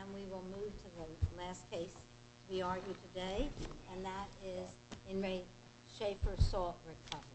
And we will move to the last case we argue today, and that is in Re Schaefer Salt Recovery.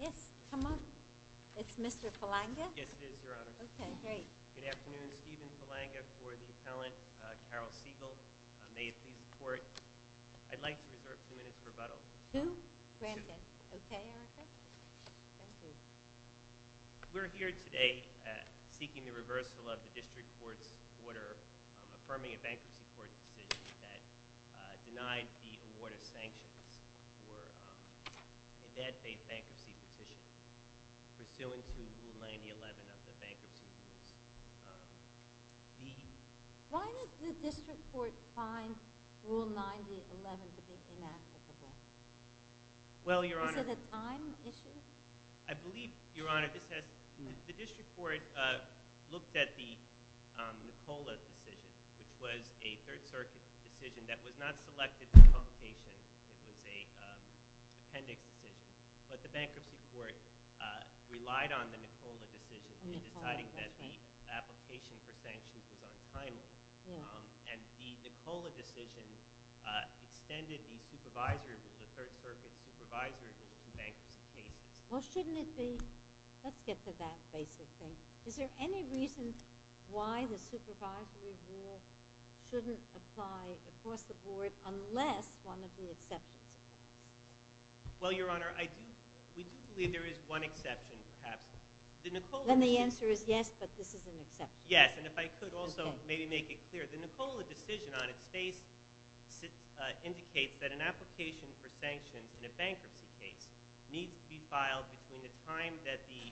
Yes, come on. It's Mr. Palanga? Yes, it is, Your Honor. Okay, great. Good afternoon. Stephen Palanga for the appellant, Carol Siegel. May it please the Court, I'd like to reserve two minutes for rebuttal. Two? Granted. Okay, Erica. Thank you. We're here today seeking the reversal of the district court's order affirming a bankruptcy court decision that denied the award of sanctions for a bad faith bankruptcy petition pursuant to Rule 9011 of the Bankruptcy Rules. Why did the district court find Rule 9011 to be inapplicable? Well, Your Honor. Is it a time issue? I believe, Your Honor, the district court looked at the Nicola decision, which was a Third Circuit decision that was not selected for publication. It was an appendix decision. But the bankruptcy court relied on the Nicola decision in deciding that the application for sanctions was untimely. And the Nicola decision extended the supervisory rule, the Third Circuit supervisory rule, to bankruptcy cases. Well, shouldn't it be – let's get to that basic thing. Is there any reason why the supervisory rule shouldn't apply across the board unless one of the exceptions applies? Well, Your Honor, I do – we do believe there is one exception, perhaps. Then the answer is yes, but this is an exception. Yes, and if I could also maybe make it clear, the Nicola decision on its face indicates that an application for sanctions in a bankruptcy case needs to be filed between the time that the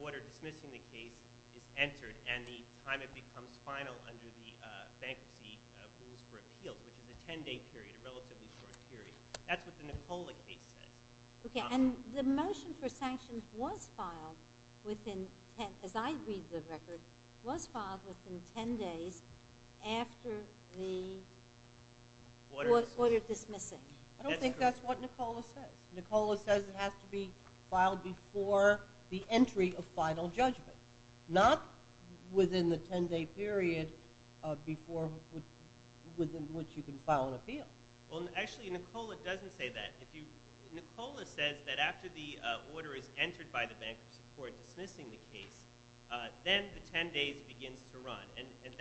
order dismissing the case is entered and the time it becomes final under the Bankruptcy Rules for Appeals, which is a 10-day period, a relatively short period. That's what the Nicola case says. Okay, and the motion for sanctions was filed within – as I read the record, was filed within 10 days after the order dismissing. I don't think that's what Nicola says. Nicola says it has to be filed before the entry of final judgment, not within the 10-day period before – within which you can file an appeal. Well, actually, Nicola doesn't say that. Nicola says that after the order is entered by the Bankruptcy Court dismissing the case, then the 10 days begins to run.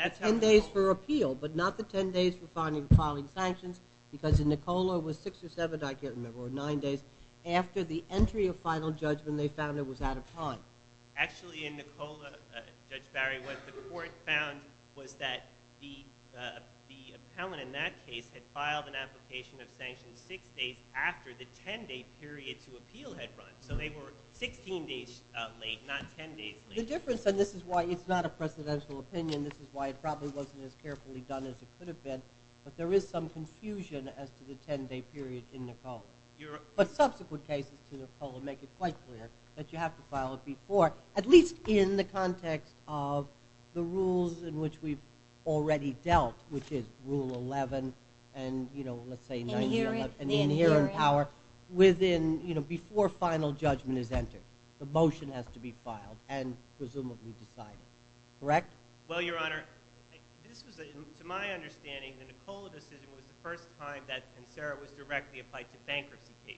The 10 days for appeal, but not the 10 days for filing sanctions, because in Nicola it was 6 or 7, I can't remember, or 9 days, after the entry of final judgment they found it was out of time. Actually, in Nicola, Judge Barry, what the court found was that the appellant in that case had filed an application of sanctions 6 days after the 10-day period to appeal had run. So they were 16 days late, not 10 days late. The difference – and this is why it's not a presidential opinion. This is why it probably wasn't as carefully done as it could have been. But there is some confusion as to the 10-day period in Nicola. But subsequent cases to Nicola make it quite clear that you have to file it before, at least in the context of the rules in which we've already dealt, which is Rule 11 and, you know, let's say – Inherent. Inherent power within – you know, before final judgment is entered. The motion has to be filed and presumably decided. Correct? Well, Your Honor, this was, to my understanding, the Nicola decision was the first time that, and Sarah was directly applied to bankruptcy cases.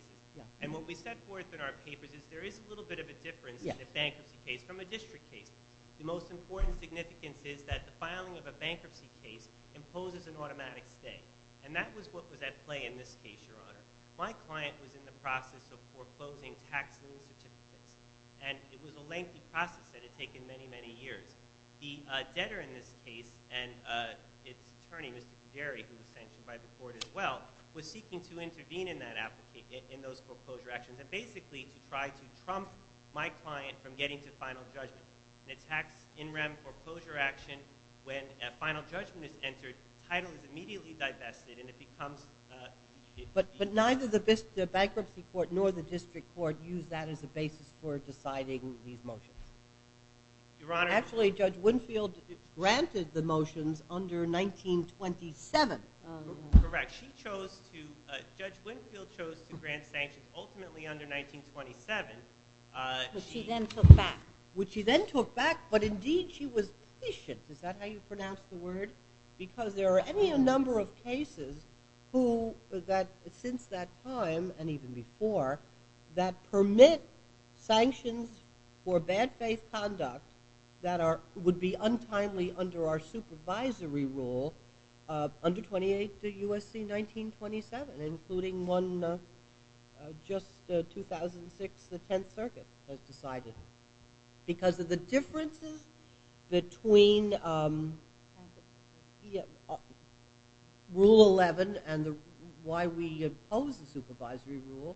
And what we set forth in our papers is there is a little bit of a difference in a bankruptcy case from a district case. The most important significance is that the filing of a bankruptcy case imposes an automatic stay. And that was what was at play in this case, Your Honor. My client was in the process of foreclosing tax lien certificates, and it was a lengthy process that had taken many, many years. The debtor in this case and its attorney, Mr. Cederi, who was sanctioned by the court as well, was seeking to intervene in those foreclosure actions, and basically to try to trump my client from getting to final judgment. In a tax in rem foreclosure action, when a final judgment is entered, the title is immediately divested and it becomes – But neither the bankruptcy court nor the district court used that as a basis for deciding these motions. Actually, Judge Winfield granted the motions under 1927. Correct. Judge Winfield chose to grant sanctions ultimately under 1927. Which she then took back. Which she then took back, but indeed she was patient. Is that how you pronounce the word? Because there are any number of cases since that time, and even before, that permit sanctions for bad faith conduct that would be untimely under our supervisory rule under 28 U.S.C. 1927, including one just 2006, the Tenth Circuit has decided. Because of the differences between Rule 11 and why we oppose the supervisory rule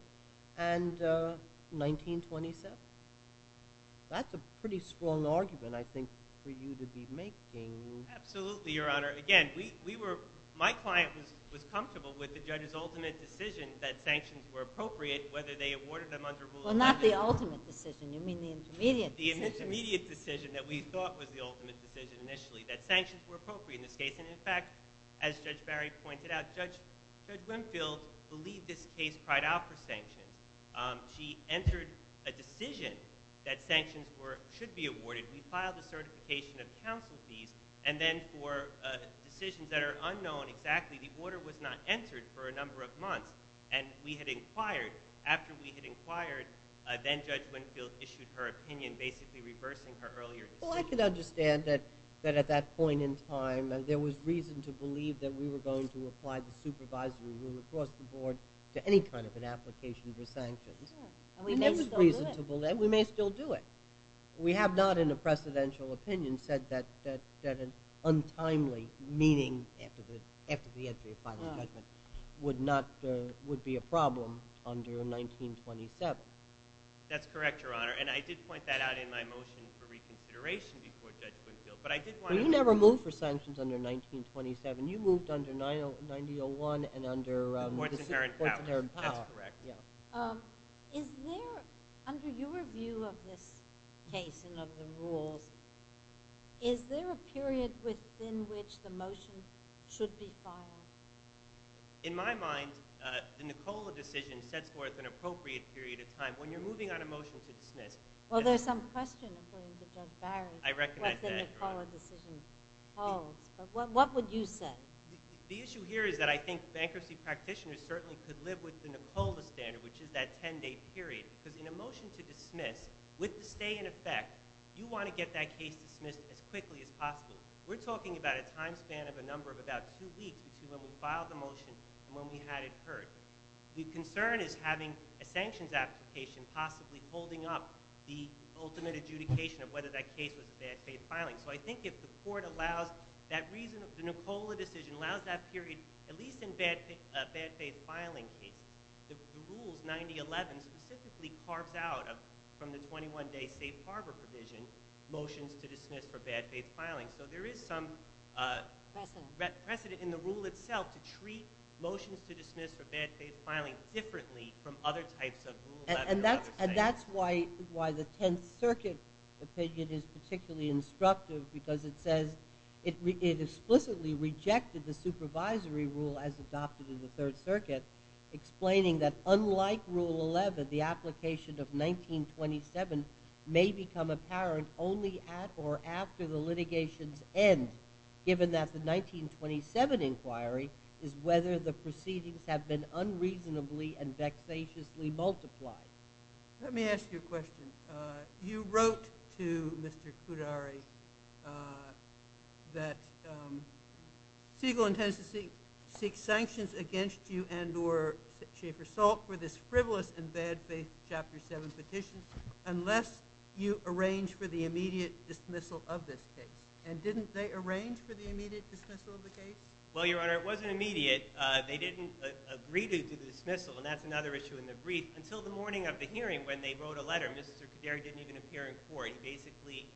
and 1927. That's a pretty strong argument, I think, for you to be making. Absolutely, Your Honor. Again, my client was comfortable with the judge's ultimate decision that sanctions were appropriate, whether they awarded them under Rule 11. Well, not the ultimate decision. You mean the intermediate decision. The intermediate decision that we thought was the ultimate decision initially, that sanctions were appropriate in this case. And in fact, as Judge Barry pointed out, Judge Winfield believed this case cried out for sanctions. She entered a decision that sanctions should be awarded. We filed a certification of counsel fees. And then for decisions that are unknown exactly, the order was not entered for a number of months. And we had inquired, after we had inquired, then Judge Winfield issued her opinion, basically reversing her earlier decision. Well, I can understand that at that point in time, there was reason to believe that we were going to apply the supervisory rule across the board to any kind of an application for sanctions. And we may still do it. We may still do it. We have not in a precedential opinion said that an untimely meeting after the entry of final judgment would be a problem under 1927. That's correct, Your Honor. And I did point that out in my motion for reconsideration before Judge Winfield. But I did want to— Well, you never moved for sanctions under 1927. You moved under 1901 and under— The courts inherent power. The courts inherent power. Is there, under your view of this case and of the rules, is there a period within which the motion should be filed? In my mind, the Nicola decision sets forth an appropriate period of time. When you're moving on a motion to dismiss— Well, there's some question, according to Judge Barry, what the Nicola decision holds. What would you say? The issue here is that I think bankruptcy practitioners certainly could live with the Nicola standard, which is that 10-day period. Because in a motion to dismiss, with the stay in effect, you want to get that case dismissed as quickly as possible. We're talking about a time span of a number of about two weeks between when we filed the motion and when we had it heard. The concern is having a sanctions application possibly holding up the ultimate adjudication of whether that case was a bad faith filing. So I think if the court allows that reason— The Nicola decision allows that period, at least in bad faith filing cases. The rules, 9011, specifically carves out, from the 21-day safe harbor provision, motions to dismiss for bad faith filing. So there is some precedent in the rule itself to treat motions to dismiss for bad faith filing differently from other types of rules. And that's why the Tenth Circuit opinion is particularly instructive, because it says it explicitly rejected the supervisory rule as adopted in the Third Circuit, explaining that unlike Rule 11, the application of 1927 may become apparent only at or after the litigation's end, given that the 1927 inquiry is whether the proceedings have been unreasonably and vexatiously multiplied. Let me ask you a question. You wrote to Mr. Kudari that Siegel intends to seek sanctions against you and or Schaefer-Salk for this frivolous and bad faith Chapter 7 petition unless you arrange for the immediate dismissal of this case. And didn't they arrange for the immediate dismissal of the case? Well, Your Honor, it wasn't immediate. They didn't agree to the dismissal, and that's another issue in the brief, until the morning of the hearing when they wrote a letter. Mr. Kudari didn't even appear in court. He basically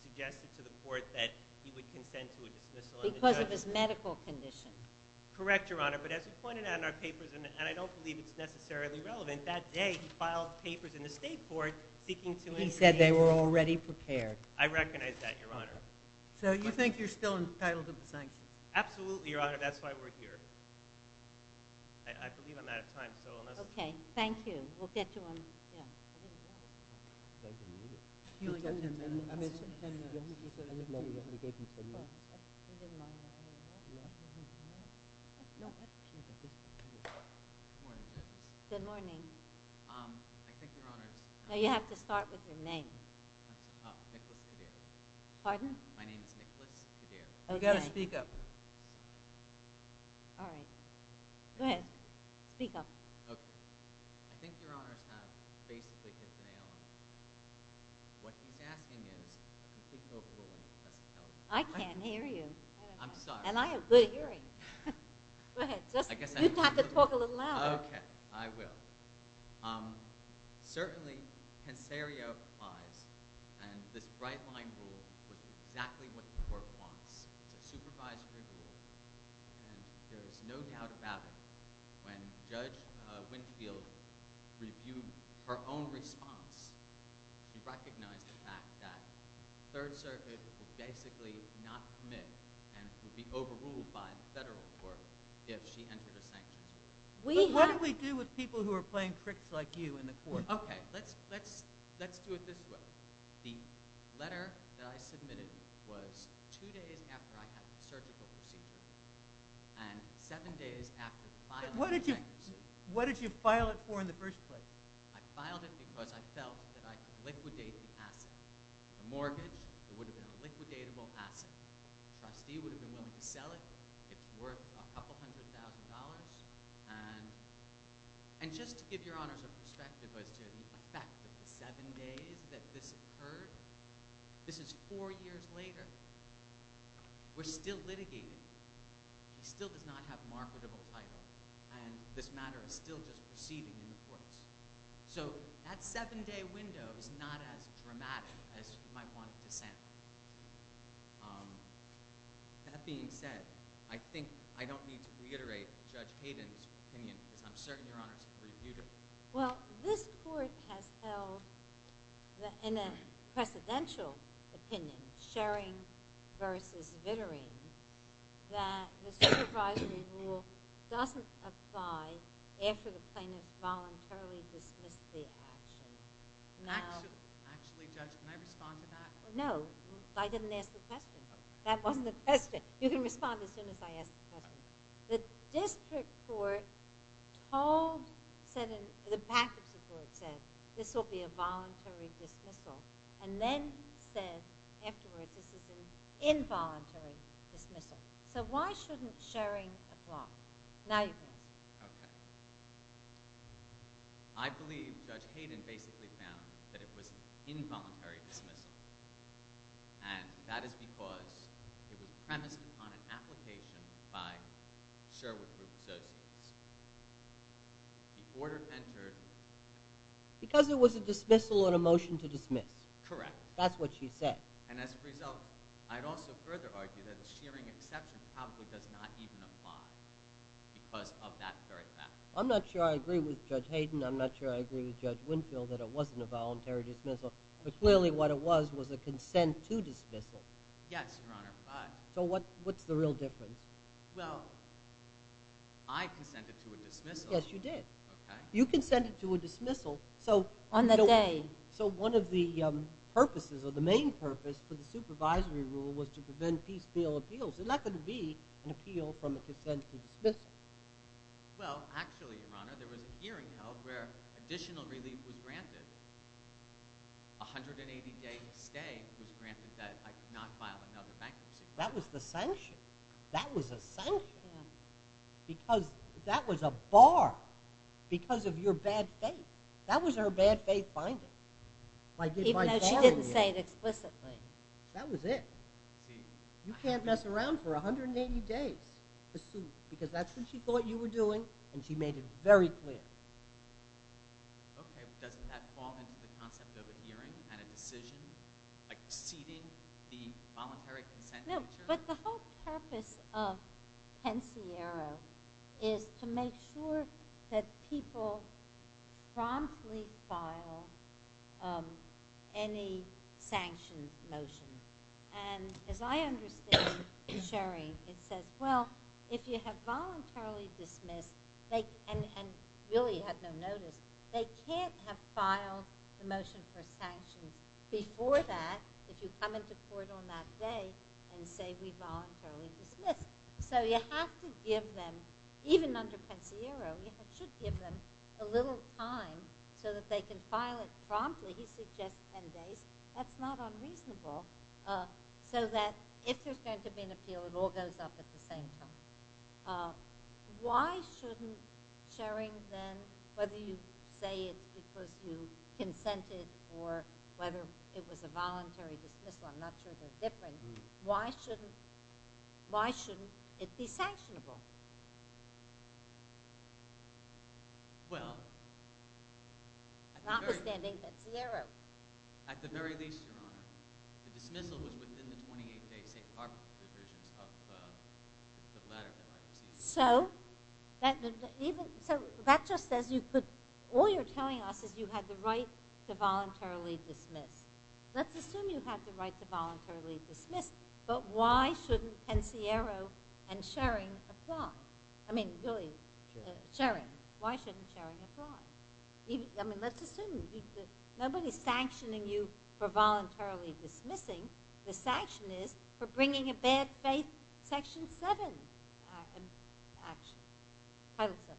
suggested to the court that he would consent to a dismissal. Because of his medical condition? Correct, Your Honor. But as we pointed out in our papers, and I don't believe it's necessarily relevant, that day he filed papers in the state court seeking to intervene. He said they were already prepared. I recognize that, Your Honor. So you think you're still entitled to the sanctions? Absolutely, Your Honor. That's why we're here. I believe I'm out of time. Okay, thank you. We'll get to him. Good morning, Justice. Good morning. I think, Your Honor. You have to start with your name. Nicholas Kadir. Pardon? My name is Nicholas Kadir. You've got to speak up. All right. Go ahead. Speak up. Okay. I think Your Honors have basically hit the nail on the head. What he's asking is a complete overruling of the testament. I can't hear you. I'm sorry. And I have good hearing. Go ahead. You have to talk a little louder. Okay. I will. Certainly, pensaria applies, and this bright-line rule would be exactly what the court wants. It's a supervisory rule. And there is no doubt about it. When Judge Winfield reviewed her own response, she recognized the fact that the Third Circuit would basically not commit and would be overruled by the federal court if she entered a sanction. What do we do with people who are playing tricks like you in the court? Okay. Let's do it this way. The letter that I submitted was two days after I had the surgical procedure and seven days after the filing of the bankruptcy. What did you file it for in the first place? I filed it because I felt that I could liquidate the asset. The mortgage, it would have been a liquidatable asset. The trustee would have been willing to sell it. It's worth a couple hundred thousand dollars. And just to give Your Honors a perspective as to the effect of the seven days that this occurred, this is four years later. We're still litigating. He still does not have marketable title. And this matter is still just proceeding in the courts. So that seven-day window is not as dramatic as you might want it to sound. That being said, I think I don't need to reiterate Judge Hayden's opinion because I'm certain Your Honors reviewed it. Well, this court has held in a precedential opinion, Schering versus Vittering, that the supervisory rule doesn't apply after the plaintiff voluntarily dismissed the action. Actually, Judge, can I respond to that? No. I didn't ask the question. That wasn't the question. You can respond as soon as I ask the question. The district court told, the back of the court said, this will be a voluntary dismissal. And then said afterwards, this is an involuntary dismissal. So why shouldn't Schering apply? Now you can answer. Okay. I believe Judge Hayden basically found that it was an involuntary dismissal. And that is because it was premised upon an application by Sherwood Group associates. The order entered. Because it was a dismissal and a motion to dismiss. Correct. That's what she said. And as a result, I'd also further argue that a Schering exception probably does not even apply because of that very fact. I'm not sure I agree with Judge Hayden. I'm not sure I agree with Judge Winfield that it wasn't a voluntary dismissal. But clearly what it was was a consent to dismissal. Yes, Your Honor. So what's the real difference? Well, I consented to a dismissal. Yes, you did. You consented to a dismissal. On that day. So one of the purposes, or the main purpose, for the supervisory rule was to prevent piecemeal appeals. It's not going to be an appeal from a consent to dismissal. Well, actually, Your Honor, there was a hearing held where additional relief was granted. A 180-day stay was granted that I could not file another bankruptcy claim. That was the sanction. That was a sanction. Because that was a bar because of your bad faith. That was her bad faith finding. Even though she didn't say it explicitly. That was it. You can't mess around for 180 days. Because that's what she thought you were doing, and she made it very clear. Okay, but doesn't that fall into the concept of a hearing and a decision exceeding the voluntary consent feature? No, but the whole purpose of Pensiero is to make sure that people promptly file any sanction motion. And as I understand, Sherry, it says, well, if you have voluntarily dismissed, and really have no notice, they can't have filed the motion for sanctions before that, if you come into court on that day and say we voluntarily dismissed. So you have to give them, even under Pensiero, you should give them a little time so that they can file it promptly. He suggests 10 days. That's not unreasonable. So that if there's going to be an appeal, it all goes up at the same time. Why shouldn't Sherry then, whether you say it's because you consented, or whether it was a voluntary dismissal, I'm not sure they're different, why shouldn't it be sanctionable? Well, at the very least, Your Honor, the dismissal was within the 28-day safe harbor provisions of the latter. So that just says you could, all you're telling us is you had the right to voluntarily dismiss. Let's assume you had the right to voluntarily dismiss, but why shouldn't Pensiero and Sherry apply? I mean, really, Sherry. Why shouldn't Sherry apply? I mean, let's assume. Nobody's sanctioning you for voluntarily dismissing. The sanction is for bringing a bad faith section 7 action. Title 7.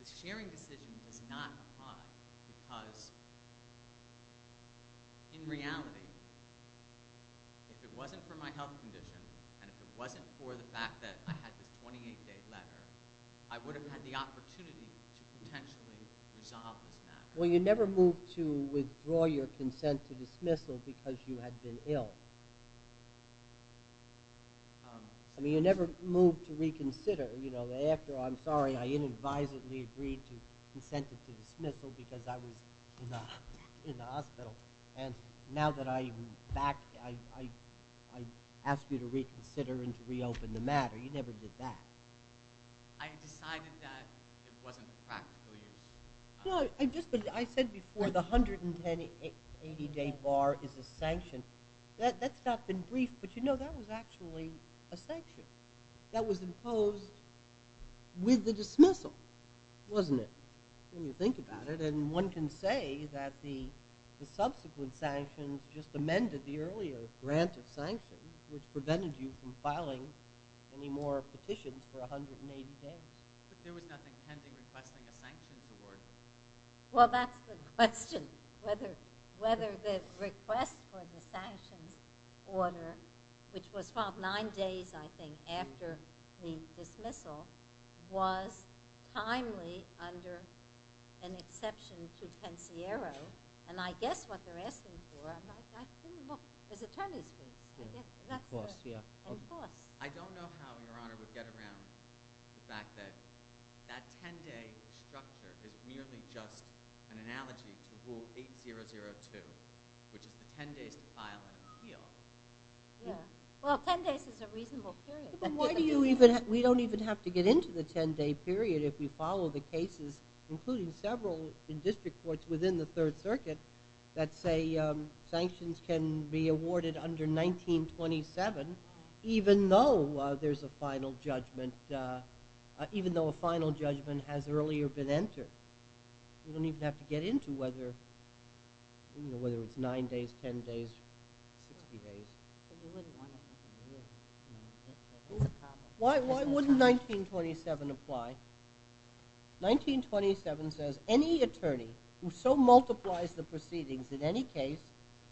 The Sherry decision does not apply, because in reality, if it wasn't for my health condition, and if it wasn't for the fact that I had this 28-day letter, I would have had the opportunity to potentially resolve this matter. Well, you never moved to withdraw your consent to dismissal because you had been ill. I mean, you never moved to reconsider. You know, after, I'm sorry, I inadvisably agreed to consent to dismissal because I was in the hospital. And now that I'm back, I ask you to reconsider and to reopen the matter. You never did that. I decided that it wasn't practical use. I said before, the 180-day bar is a sanction. That's not been briefed, but you know, that was actually a sanction. That was imposed with the dismissal, wasn't it, when you think about it? And one can say that the subsequent sanctions just amended the earlier grant of sanctions, which prevented you from filing any more petitions for 180 days. But there was nothing pending requesting a sanctions award. Well, that's the question. Whether the request for the sanctions order, which was filed nine days, I think, after the dismissal, was timely under an exception to Pansiero. And I guess what they're asking for, I think, well, there's a ton of speech. Of course, yeah. Of course. I don't know how Your Honor would get around the fact that that 10-day structure is merely just an analogy to Rule 8002, which is the 10 days to file an appeal. Yeah. Well, 10 days is a reasonable period. But why do you even – we don't even have to get into the 10-day period if we follow the cases, including several in district courts within the Third Circuit, that say sanctions can be awarded under 1927 even though there's a final judgment, even though a final judgment has earlier been entered? We don't even have to get into whether it's nine days, 10 days, 60 days. But you wouldn't want to. Why wouldn't 1927 apply? 1927 says, any attorney who so multiplies the proceedings in any case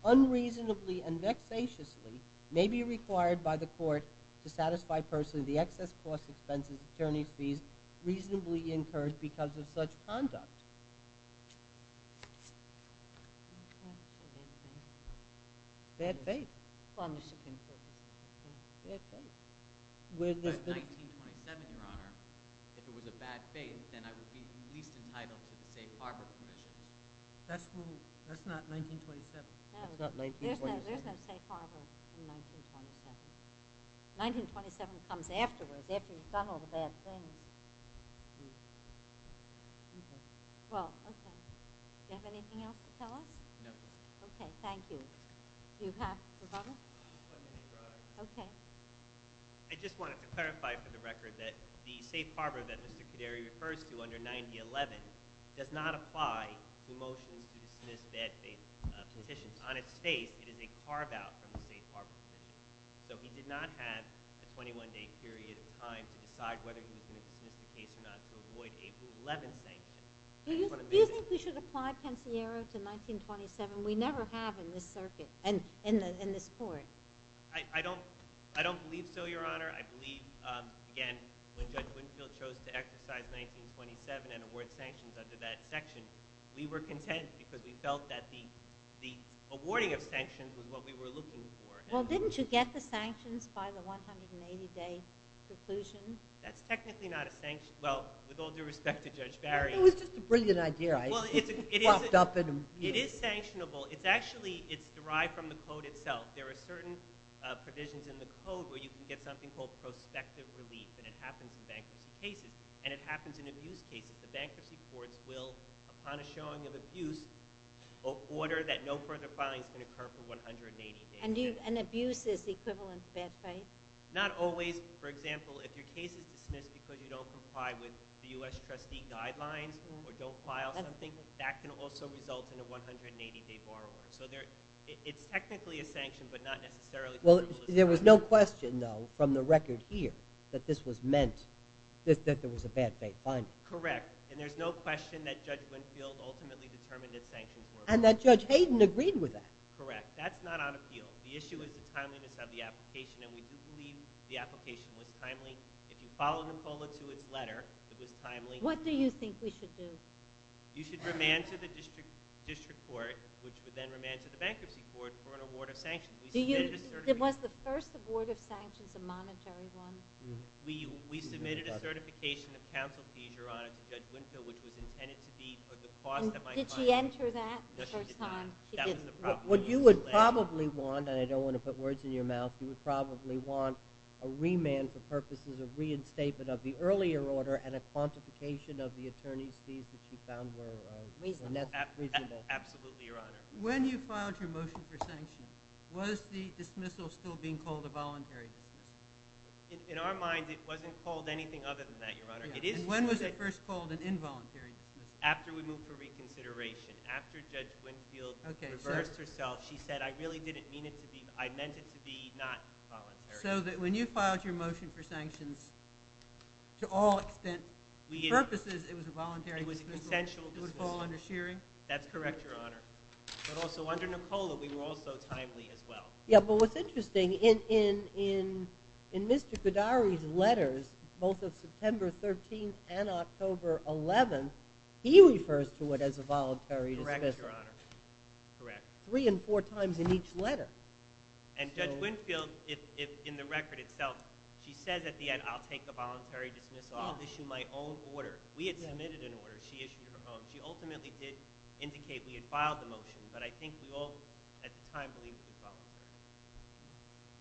unreasonably and vexatiously may be required by the court to satisfy personally the excess cost expenses attorney's fees reasonably incurred because of such conduct. Bad faith. Bad faith. But 1927, Your Honor, if it was a bad faith, then I would be least entitled to the safe harbor permissions. That's not 1927. No. There's no safe harbor in 1927. 1927 comes afterwards, after you've done all the bad things. Well, okay. Do you have anything else to tell us? No. Okay, thank you. Do you have, Rebecca? Okay. I just wanted to clarify for the record that the safe harbor that Mr. Caderi refers to under 9011 does not apply to motions to dismiss bad faith petitions. On its face, it is a carve-out from the safe harbor petition. So he did not have a 21-day period of time to decide whether he was going to dismiss the case or not to avoid a rule 11 sanction. Do you think we should apply Pensiero to 1927? We never have in this circuit, in this court. I don't believe so, Your Honor. I believe, again, when Judge Winfield chose to exercise 1927 and award sanctions under that section, we were content because we felt that the awarding of sanctions was what we were looking for. Well, didn't you get the sanctions by the 180-day conclusion? That's technically not a sanction. Well, with all due respect to Judge Barry. It was just a brilliant idea. It is sanctionable. Actually, it's derived from the code itself. There are certain provisions in the code where you can get something called prospective relief, and it happens in bankruptcy cases, and it happens in abuse cases. The bankruptcy courts will, upon a showing of abuse, order that no further filing is going to occur for 180 days. And abuse is equivalent to bad faith? Not always. I think that can also result in a 180-day borrower. So it's technically a sanction, but not necessarily. Well, there was no question, though, from the record here that this was meant, that there was a bad faith finding. Correct. And there's no question that Judge Winfield ultimately determined that sanctions were a violation. And that Judge Hayden agreed with that. Correct. That's not on appeal. The issue is the timeliness of the application, and we do believe the application was timely. If you follow Nicola to its letter, it was timely. What do you think we should do? You should remand to the district court, which would then remand to the bankruptcy court, for an award of sanctions. Was the first award of sanctions a monetary one? We submitted a certification of counsel fees, Your Honor, to Judge Winfield, which was intended to be for the cost of my client. Did she enter that the first time? No, she did not. She didn't. What you would probably want, and I don't want to put words in your mouth, you would probably want a remand for purposes of reinstatement of the earlier order and a quantification of the attorney's fees that she found were reasonable. Absolutely, Your Honor. When you filed your motion for sanctions, was the dismissal still being called a voluntary dismissal? In our mind, it wasn't called anything other than that, Your Honor. When was it first called an involuntary dismissal? After we moved for reconsideration. After Judge Winfield reversed herself, she said, I really didn't mean it to be, I meant it to be not voluntary. So that when you filed your motion for sanctions, to all extent, purposes, it was a voluntary dismissal? It was an essential dismissal. It would fall under Shearing? That's correct, Your Honor. But also under Nicola, we were also timely as well. Yeah, but what's interesting, in Mr. Goddari's letters, both of September 13th and October 11th, he refers to it as a voluntary dismissal. Correct, Your Honor. Correct. Three and four times in each letter. And Judge Winfield, in the record itself, she says at the end, I'll take the voluntary dismissal, I'll issue my own order. We had submitted an order, she issued her own. She ultimately did indicate we had filed the motion, but I think we all, at the time, believed it was voluntary.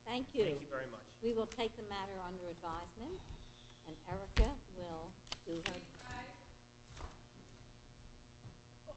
Thank you. Thank you very much. We will take the matter under advisement, and Erica will do her...